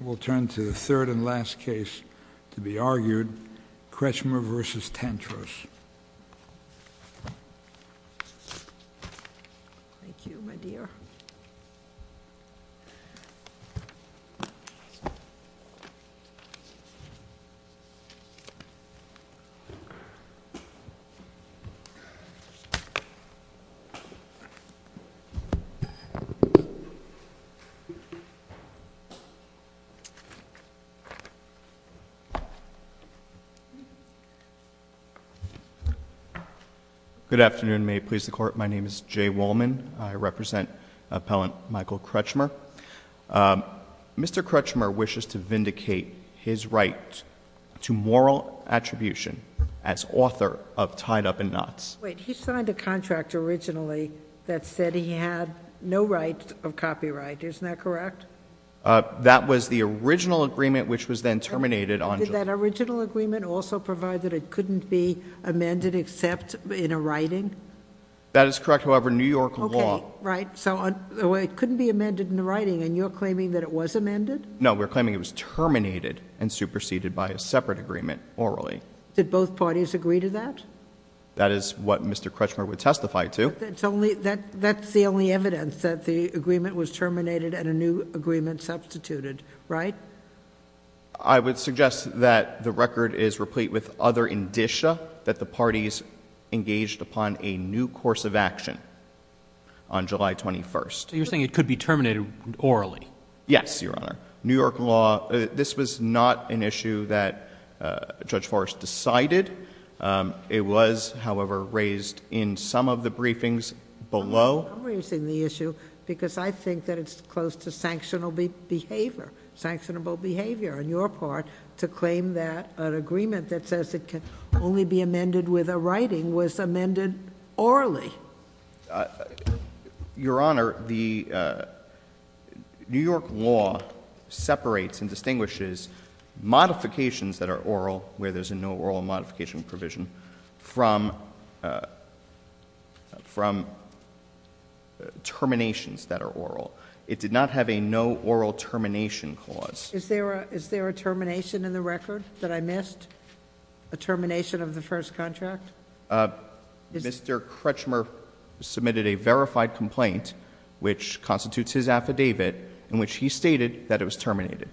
We'll turn to the third and last case to be argued, Krechmer v. Tantros. Good afternoon. May it please the Court, my name is Jay Wolman. I represent appellant Michael Krechmer. Mr. Krechmer wishes to vindicate his right to moral attribution as author of Tied Up in Knots. Wait, he signed a contract originally that said he had no right of copyright. Isn't that correct? That was the original agreement which was then terminated. Did that original agreement also provide that it couldn't be amended except in a writing? That is correct, however, New York law... Okay, right, so it couldn't be amended in the writing and you're claiming that it was amended? No, we're claiming it was terminated and superseded by a separate agreement orally. Did both parties agree to that? That is what Mr. Krechmer would testify to. That's the only evidence that the agreement was terminated and a new agreement substituted, right? I would suggest that the record is replete with other indicia that the parties engaged upon a new course of action on July 21st. You're saying it could be terminated orally? Yes, Your Honor. New York law, this was not an issue that Judge Forrest decided. It was, however, raised in some of the briefings below. I'm raising the issue because I think that it's close to sanctionable behavior on your part to claim that an agreement that says it can only be amended with a writing was amended orally. Your Honor, the New York law separates and distinguishes modifications that are oral, where there's no oral modification provision, from terminations that are oral. It did not have a no oral termination clause. Is there a termination in the record that I missed? A termination of the first contract? Mr. Krechmer submitted a verified complaint which constitutes his affidavit in which he stated that it was It terminated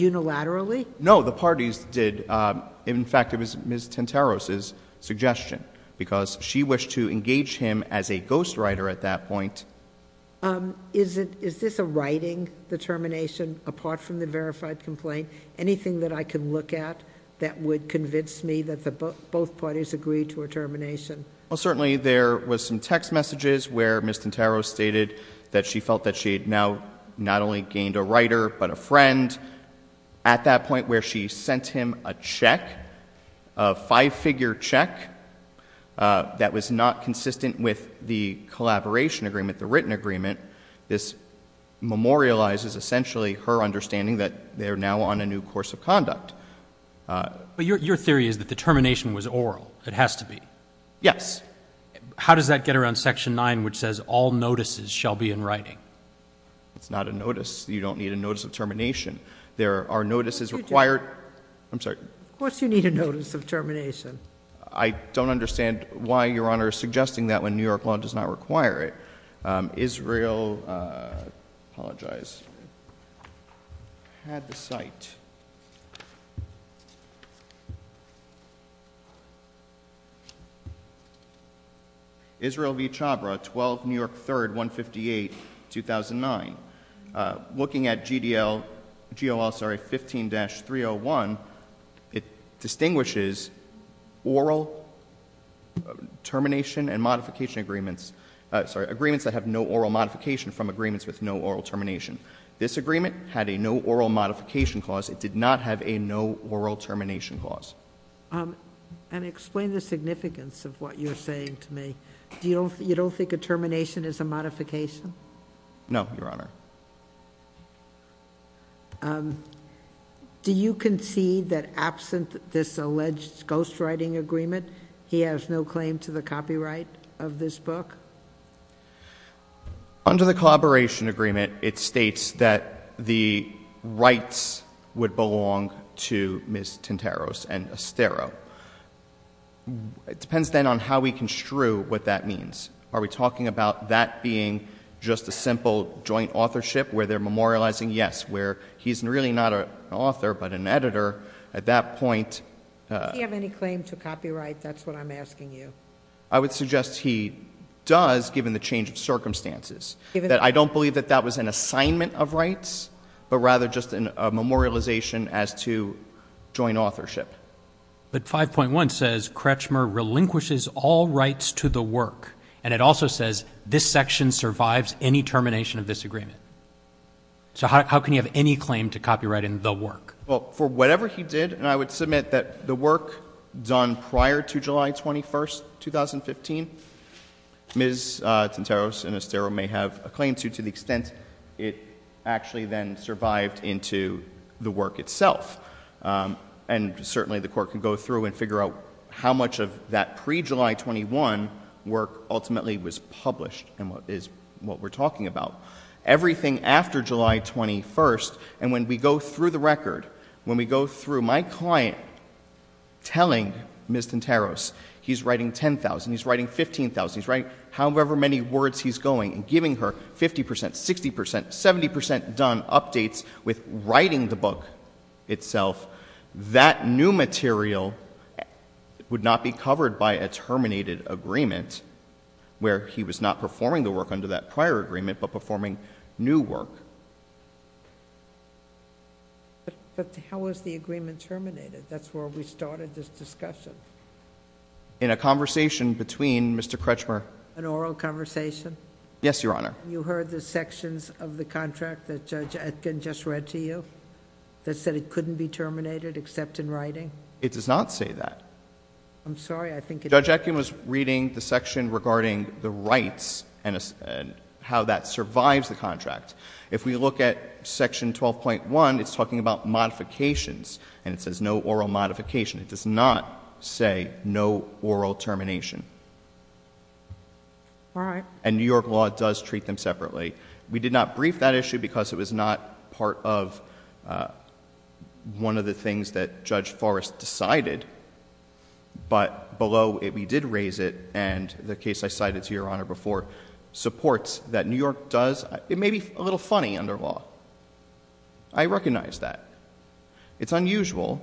unilaterally? No, the parties did. In fact, it was Ms. Tenteros' suggestion because she wished to engage him as a ghostwriter at that point. Is this a writing, the termination, apart from the verified complaint? Anything that I can look at that would convince me that both parties agreed to a termination? Well, certainly there was some text messages where Ms. Tenteros stated that she felt that she had now not only gained a writer but a friend at that point where she sent him a check, a five-figure check, that was not consistent with the collaboration agreement, the written agreement. This memorializes essentially her understanding that they are now on a new course of conduct. But your theory is that the termination was oral. It has to be. Yes. How does that get around Section 9 which says all notices shall be in writing? It's not a notice. You don't need a notice of termination. There are notices required. I'm sorry. Of course you need a notice of termination. I don't understand why Your Honor is suggesting that when New York law does not require it. Israel, I apologize, had the site. Israel v. Chabra, 12, New York 3rd, 158, 2009. Looking at GDL, GOL, sorry, 15-301, it distinguishes oral termination and modification agreements, sorry, agreements that have no oral modification from agreements with no oral termination. This agreement had a no oral modification clause. It did not have a no oral termination clause. And explain the significance of what you're saying to me. You don't think a no oral termination clause would apply? Do you concede that absent this alleged ghostwriting agreement, he has no claim to the copyright of this book? Under the collaboration agreement, it states that the rights would belong to Ms. Tinteros and Estero. It depends then on how we where they're memorializing, yes, where he's really not an author but an editor at that point. Does he have any claim to copyright? That's what I'm asking you. I would suggest he does, given the change of circumstances, that I don't believe that that was an assignment of rights, but rather just a memorialization as to joint authorship. But 5.1 says Kretschmer relinquishes all rights to the work. And it also says this section survives any termination of this agreement. So how can he have any claim to copyright in the work? Well, for whatever he did, and I would submit that the work done prior to July 21, 2015, Ms. Tinteros and Estero may have a claim to, to the extent it actually then survived into the work itself. And certainly the Court could go through and figure out how much of that pre-July 21 work ultimately was everything after July 21. And when we go through the record, when we go through my client telling Ms. Tinteros he's writing 10,000, he's writing 15,000, he's writing however many words he's going and giving her 50%, 60%, 70% done updates with writing the book itself, that new material would not be covered by a terminated agreement where he was not performing the work under that prior agreement but performing new work. But, but how was the agreement terminated? That's where we started this discussion. In a conversation between Mr. Kretschmer. An oral conversation? Yes, Your Honor. You heard the sections of the contract that Judge Atkin just read to you that said it couldn't be terminated except in writing? It does not say that. I'm sorry, I think it does. Judge Atkin was reading the section regarding the rights and how that survives the contract. If we look at section 12.1, it's talking about modifications and it says no oral modification. It does not say no oral termination. All right. And New York law does treat them separately. We did not brief that issue because it was not part of one of the things that Judge Forrest decided, but below it we did raise it and the case I cited to Your Honor before supports that New York does. It may be a little funny under law. I recognize that. It's unusual,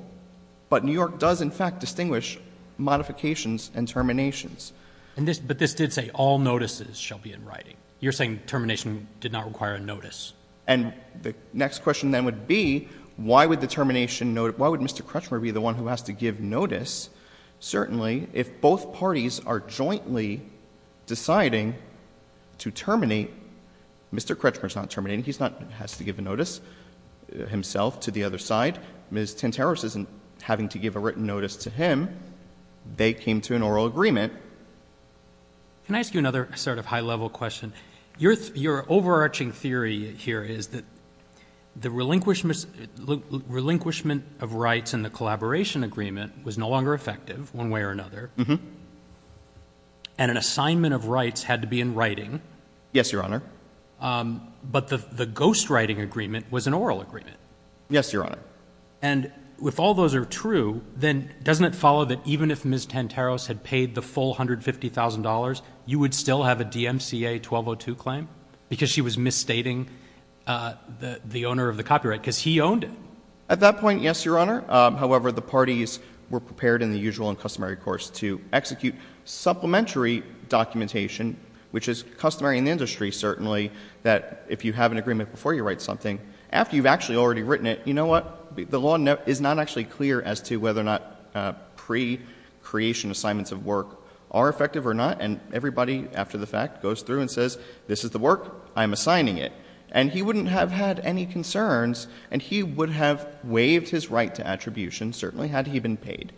but New York does in fact distinguish modifications and terminations. And this, but this did say all notices shall be in writing. You're saying termination did not require a notice. And the next question then would be why would the termination why would Mr. Kretschmer be the one who has to give notice? Certainly if both parties are jointly deciding to terminate, Mr. Kretschmer is not terminating. He's not has to give a notice himself to the other side. Ms. Tenteros isn't having to give a written notice to him. They came to an oral agreement. Can I ask you another sort of high level question? Your overarching theory here is that relinquishment of rights and the collaboration agreement was no longer effective one way or another. And an assignment of rights had to be in writing. Yes, Your Honor. But the ghost writing agreement was an oral agreement. Yes, Your Honor. And with all those are true, then doesn't it follow that even if Ms. Tenteros had paid the full $150,000, you would still have a DMCA 1202 claim because she was misstating the owner of the copyright because he owned it? At that point, yes, Your Honor. However, the parties were prepared in the usual and customary course to execute supplementary documentation, which is customary in the industry, certainly, that if you have an agreement before you write something, after you've actually already written it, you know what? The law is not actually clear as to whether or not pre-creation assignments of this is the work. I'm assigning it. And he wouldn't have had any concerns. And he would have waived his right to attribution, certainly, had he been paid.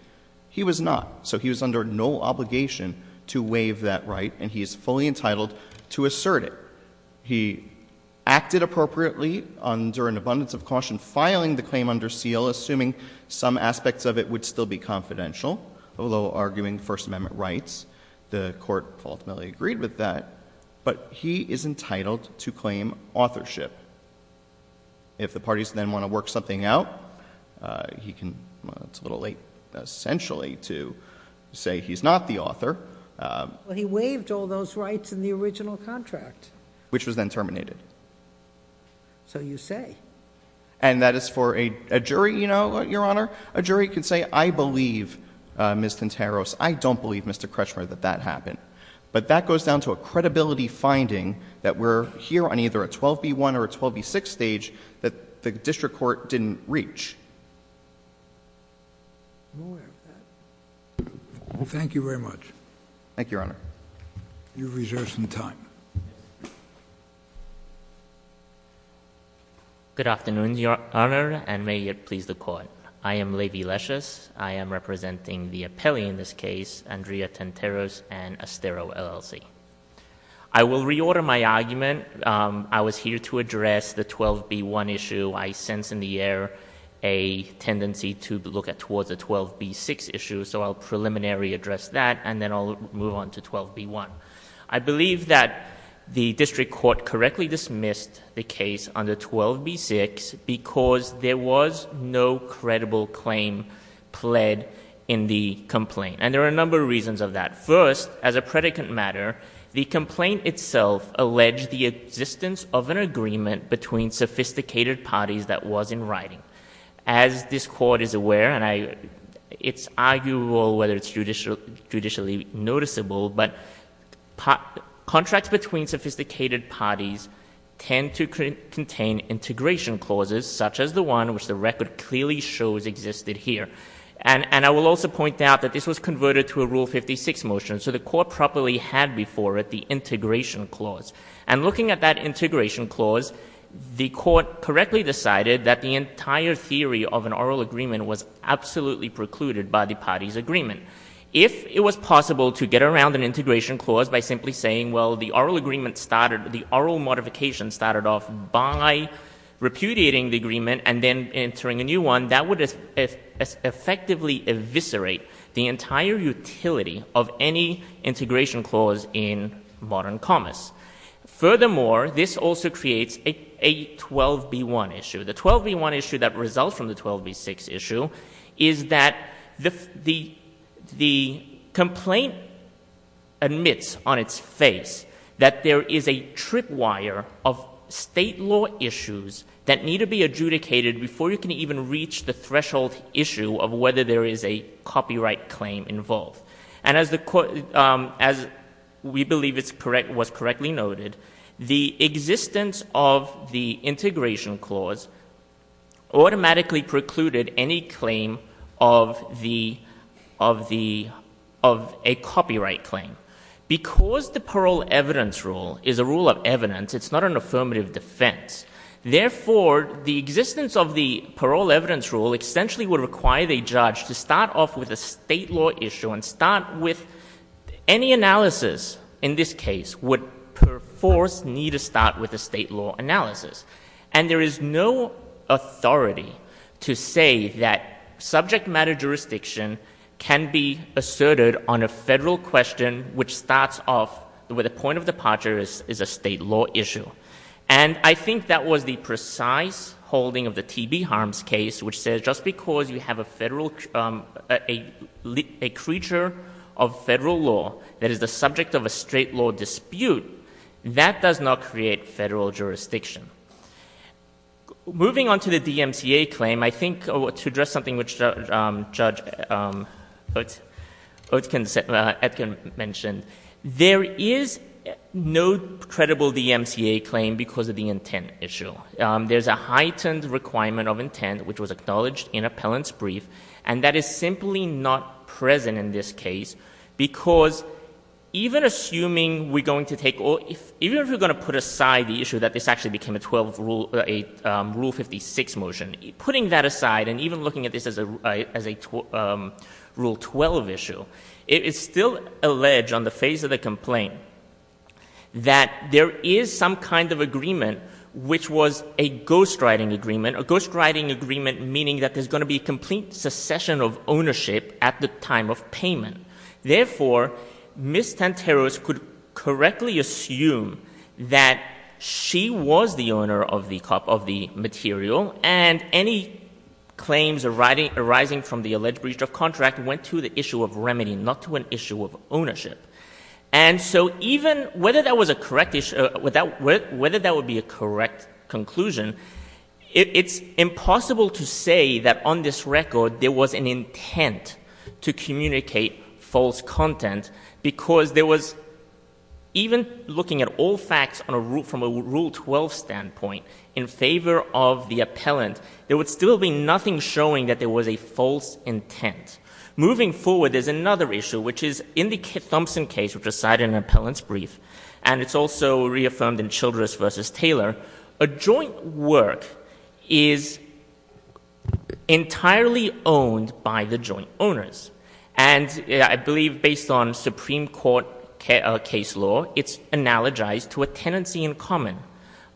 He was not. So he was under no obligation to waive that right. And he is fully entitled to assert it. He acted appropriately under an abundance of caution, filing the claim under seal, assuming some aspects of it would still be confidential, although arguing First Amendment rights. The Court ultimately agreed with that. But he is entitled to claim authorship. If the parties then want to work something out, he can—well, it's a little late, essentially, to say he's not the author. He waived all those rights in the original contract. Which was then terminated. So you say. And that is for a jury, you know, Your Honor. A jury can say, I believe, Ms. Tinteros, I don't believe, Mr. Kretschmer, that that happened. But that goes down to a credibility finding that we're here on either a 12b-1 or a 12b-6 stage that the district court didn't reach. Thank you very much. Thank you, Your Honor. You reserve some time. Good afternoon, Your Honor, and may it please the Court. I am Levi Leshes. I am representing the Andrea Tinteros and Astero, LLC. I will reorder my argument. I was here to address the 12b-1 issue. I sense in the air a tendency to look towards the 12b-6 issue, so I'll preliminary address that, and then I'll move on to 12b-1. I believe that the district court correctly dismissed the case under 12b-6 because there was no credible claim pled in the complaint, and there are a number of reasons of that. First, as a predicate matter, the complaint itself alleged the existence of an agreement between sophisticated parties that was in writing. As this Court is aware, and it's arguable whether it's judicially noticeable, but contracts between sophisticated parties tend to contain integration clauses, such as the one which the record clearly shows existed here. And I will also point out that this was converted to a Rule 56 motion, so the Court properly had before it the integration clause. And looking at that integration clause, the Court correctly decided that the entire theory of an oral agreement was absolutely precluded by the parties' agreement. If it was possible to get around an integration clause by simply saying, well, the oral modification started off by repudiating the agreement and then entering a new one, that would effectively eviscerate the entire utility of any integration clause in modern commas. Furthermore, this also creates a 12b-1 issue. The 12b-1 issue that results from the 12b-6 issue is that the complaint admits on its face that there is a tripwire of state law issues that need to be adjudicated before you can even reach the threshold issue of whether there is a copyright claim involved. And as we believe was correctly noted, the existence of the integration clause automatically precluded any claim of the, of the, of a copyright claim. Because the parole evidence rule is a rule of evidence, it's not an affirmative defense. Therefore, the existence of the parole evidence rule essentially would require the judge to start off with a state law issue and start with any analysis in this case would, per force, need to start with a state law analysis. And there is no authority to say that subject matter jurisdiction can be asserted on a federal question which starts off with a point of departure is a state law issue. And I think that was the precise holding of the TB harms case, which says just because you have a federal, a creature of federal law that is the subject of a state law dispute, that does not create federal jurisdiction. Moving on to the DMCA claim, I think to address something which Judge Oetken said, Edkin mentioned, there is no credible DMCA claim because of the intent issue. There's a heightened requirement of intent, which was acknowledged in appellant's brief, and that is simply not present in this case, because even assuming we're going to take or even if we're going to put aside the issue that this actually became a 12 rule, a rule 56 motion, putting that aside and even looking at this as a rule 12 issue, it is still alleged on the face of the complaint that there is some kind of agreement which was a ghostwriting agreement, a ghostwriting agreement meaning that there's going to be complete secession of ownership at the time of payment. Therefore, Ms. Tanteros could correctly assume that she was the owner of the material and any claims arising from the alleged breach of contract went to the issue of remedy, not to an issue of ownership. And so even whether that was a correct, whether that would be a correct conclusion, it's impossible to say that on this record there was an intent to communicate false content, because there was even looking at all facts from a rule 12 standpoint in favor of the appellant, there would still be nothing showing that there was a false intent. Moving forward, there's another issue, which is in the Thompson case, which was cited in the appellant's brief, and it's also reaffirmed in Childress v. Taylor, a joint work is entirely owned by the joint owners. And I believe based on Supreme Court case law, it's analogized to a tenancy in common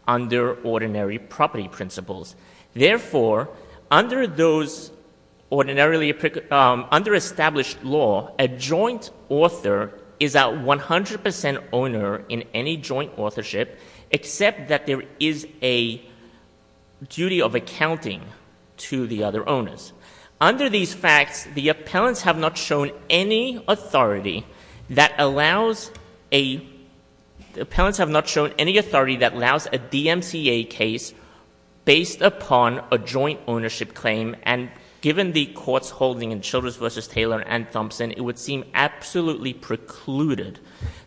under ordinary property principles. Therefore, under those ordinarily, under established law, a joint author is a 100% owner in any joint authorship, except that there is a duty of accounting to the other owners. Under these facts, the appellants have not shown any authority that allows a, the appellants have not shown any authority that allows a DMCA case based upon a joint ownership claim, and given the court's holding in Childress v. Taylor and Thompson, it would seem absolutely precluded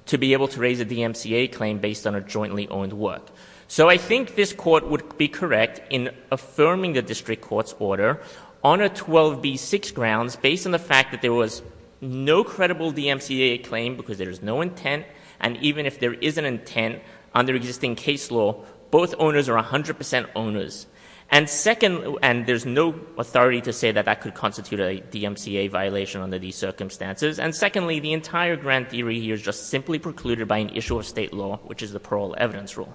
to be able to raise a DMCA claim based on a jointly owned work. So I think this court would be correct in affirming the district court's order on a 12B6 grounds based on the fact that there was no credible DMCA claim because there is no intent, and even if there is an intent under existing case law, both owners are 100% owners. And second, and there's no authority to say that that could constitute a DMCA violation under these circumstances. And secondly, the entire grand theory here is just simply precluded by an issue of state law, which is the parole evidence rule.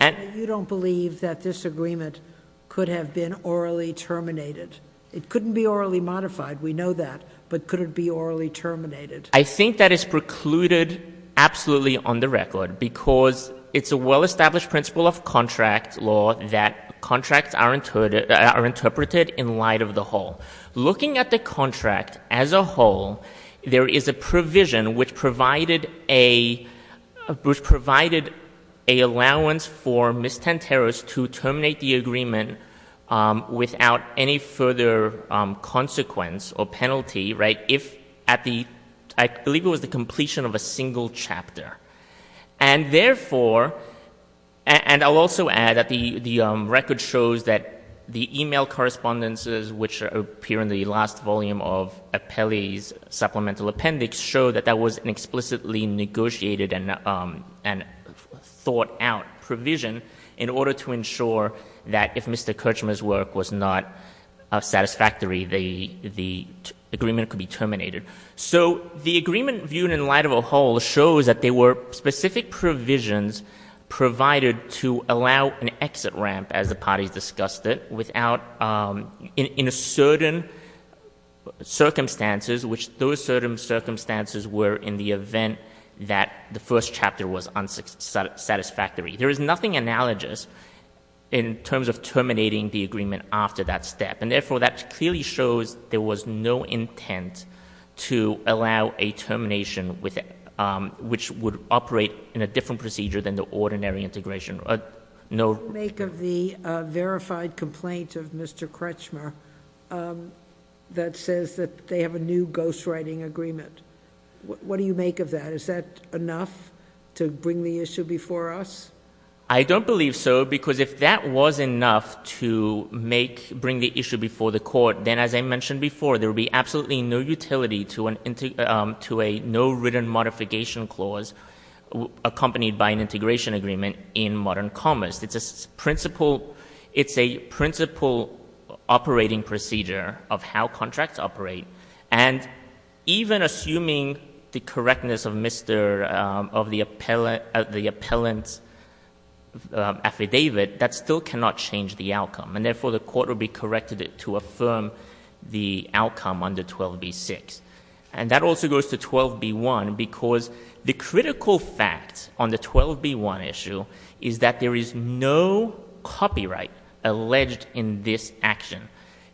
And you don't believe that this agreement could have been orally terminated. It couldn't be orally modified. We know that. But could it be orally terminated? I think that is precluded absolutely on the record because it's a well-established principle of contract law that contracts are interpreted in light of the whole. Looking at the contract as a whole, there is a provision which provided a, which provided a allowance for Ms. Tanteros to terminate the agreement without any further consequence or penalty, right, if at the, I believe it was the completion of a single chapter. And therefore, and I'll also add that the record shows that the email correspondences which appear in the last volume of Appellee's Supplemental Appendix show that that was an explicitly negotiated and thought out provision in order to ensure that if Mr. Kirchner's work was not satisfactory, the agreement could not be terminated. So the agreement viewed in light of a whole shows that there were specific provisions provided to allow an exit ramp, as the parties discussed it, without, in a certain circumstances, which those certain circumstances were in the event that the first chapter was unsatisfactory. There is nothing analogous in terms of terminating the agreement after that step. And therefore, that clearly shows there was no intent to allow a termination with, which would operate in a different procedure than the ordinary integration. No. What do you make of the verified complaint of Mr. Kirchner that says that they have a new ghostwriting agreement? What do you make of that? Is that enough to bring the issue before us? I don't believe so, because if that was enough to make, bring the issue before the court, then as I mentioned before, there would be absolutely no utility to a no written modification clause accompanied by an integration agreement in modern commerce. It's a principle operating procedure of how contracts operate. And even assuming the correctness of Mr., of the appellant, the appellant's affidavit, that still cannot change the outcome. And therefore, the court will be corrected to affirm the outcome under 12b-6. And that also goes to 12b-1, because the critical fact on the 12b-1 issue is that there is no copyright alleged in this action.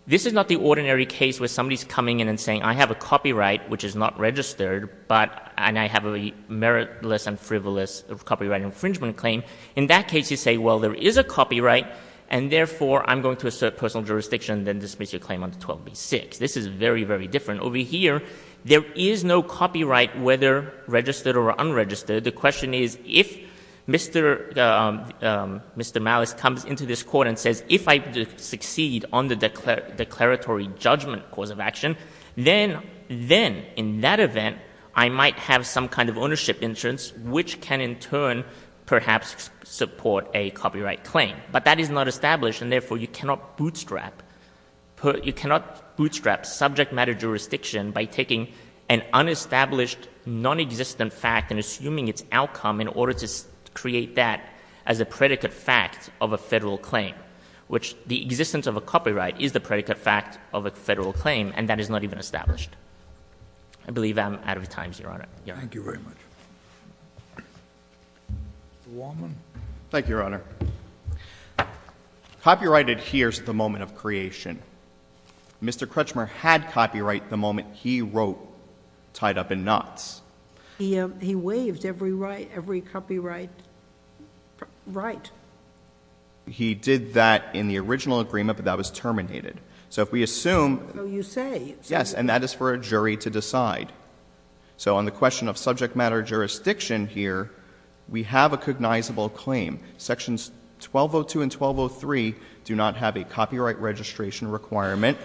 This is not the ordinary case where somebody's coming in and saying, I have a copyright which is not registered, but, and I have a meritless and frivolous copyright infringement claim. In that case, you say, well, there is a copyright, and therefore, I'm going to assert personal jurisdiction, then dismiss your claim under 12b-6. This is very, very different. Over here, there is no copyright, whether registered or unregistered. The question is, if Mr., Mr. Malice comes into this court and says, if I succeed on the declaratory judgment cause of action, then, then, in that event, I might have some kind of ownership insurance, which can, in turn, perhaps support a copyright claim. But that is not established, and therefore, you cannot bootstrap, you cannot bootstrap subject matter jurisdiction by taking an unestablished nonexistent fact and assuming its outcome in order to create that as a predicate fact of a federal claim, which the existence of a copyright is the predicate fact of a federal claim, and that is not even established. I believe I'm out of time, Your Honor. THE COURT. Thank you very much. Mr. Wallman. MR. WALLMAN. Thank you, Your Honor. Copyright adheres to the moment of creation. Mr. Kretschmer had copyright the moment he wrote Tied Up in Knots. JUSTICE SOTOMAYOR. He, he waived every right, every copyright right. MR. WALLMAN. He did that in the original agreement, but that was terminated. So, if we assume JUSTICE SOTOMAYOR. Oh, you say. MR. WALLMAN. Yes, and that is for a jury to decide. So, on the question of subject matter jurisdiction here, we have a cognizable claim. Sections 1202 and 1203 do not have a copyright registration requirement,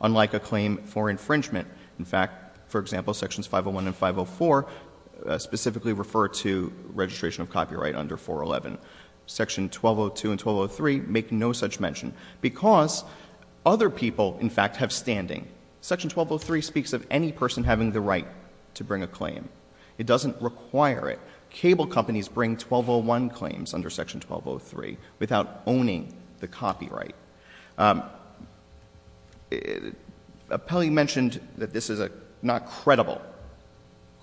unlike a claim for infringement. In fact, for example, Sections 501 and 504 specifically refer to registration of copyright under 411. Section 1202 and 1203 make no such mention, because other people, in fact, have standing. Section 1203 speaks of any person having the right to bring a claim. It doesn't require it. Cable companies bring 1201 claims under Section 1203 without owning the copyright. Pelley mentioned that this is not credible.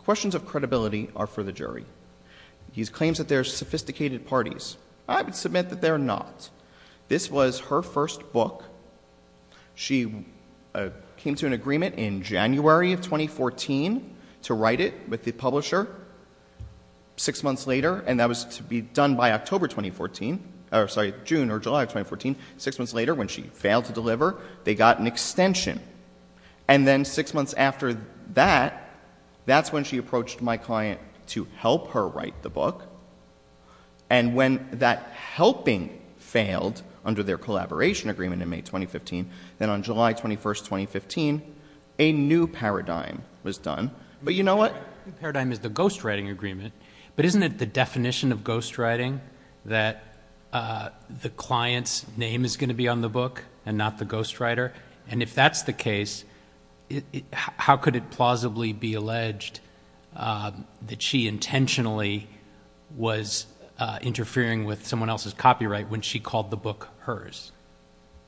Questions of credibility are for the jury. These claims that they're sophisticated parties, I would submit that they're not. This was her first book. She came to an agreement in January of 2014 to write it with the publisher. Six months later, and that was to be done by October 2014, or sorry, June or July of 2014, six months later, when she failed to deliver, they got an extension. And then six months after that, that's when she approached my client to help her write the book. And when that helping failed under their collaboration agreement in May 2015, then on July 21, 2015, a new paradigm was done. But you know what? The new paradigm is the ghostwriting agreement. But isn't it the definition of ghostwriting that the client's name is going to be on the book and not the ghostwriter? And if that's the case, how could it plausibly be alleged that she intentionally was interfering with someone else's copyright when she called the book hers?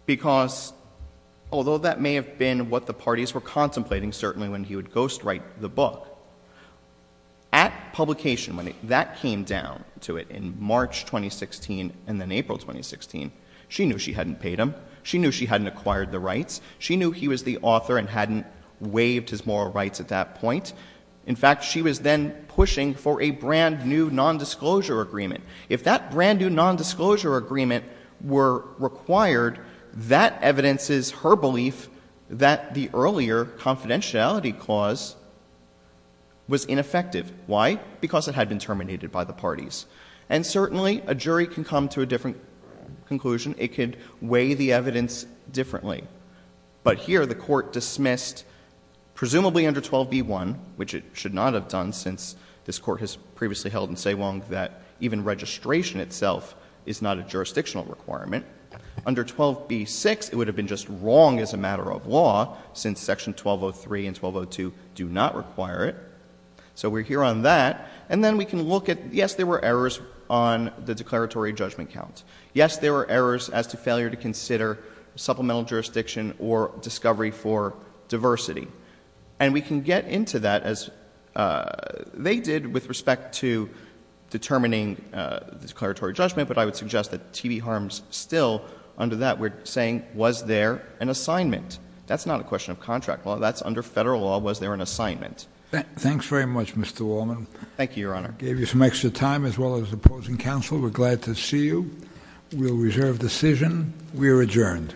Because although that may have been what the parties were contemplating, certainly, when he would ghostwrite the book, at publication, when that came down to it in March 2016 and then April 2016, she knew she hadn't paid him. She knew she hadn't acquired the rights. She knew he was the author and hadn't waived his moral rights at that point. In fact, she was then pushing for a brand new nondisclosure agreement. If that brand new nondisclosure agreement were required, that evidences her belief that the earlier confidentiality clause was ineffective. Why? Because it had been terminated by the parties. And certainly, a jury can come to a different conclusion. It could weigh the evidence differently. But here, the Court dismissed, presumably under 12b1, which it should not have done since this Court has previously held in Saigon that even registration itself is not a jurisdictional requirement. Under 12b6, it would have been just wrong as a matter of law since Section 1203 and 1202 do not require it. So we're here on that. And then we can look at, yes, there were errors on the declaratory judgment count. Yes, there were errors as to failure to consider supplemental jurisdiction or discovery for diversity. And we can get into that as they did with respect to determining the declaratory judgment. But I would suggest that T.B. Harms still, under that, we're saying, was there an assignment? That's not a question of contract law. That's under federal law, was there an assignment? Thanks very much, Mr. Wallman. Thank you, Your Honor. Gave you some extra time as well as opposing counsel. We're glad to see you. We'll reserve decision. We're adjourned.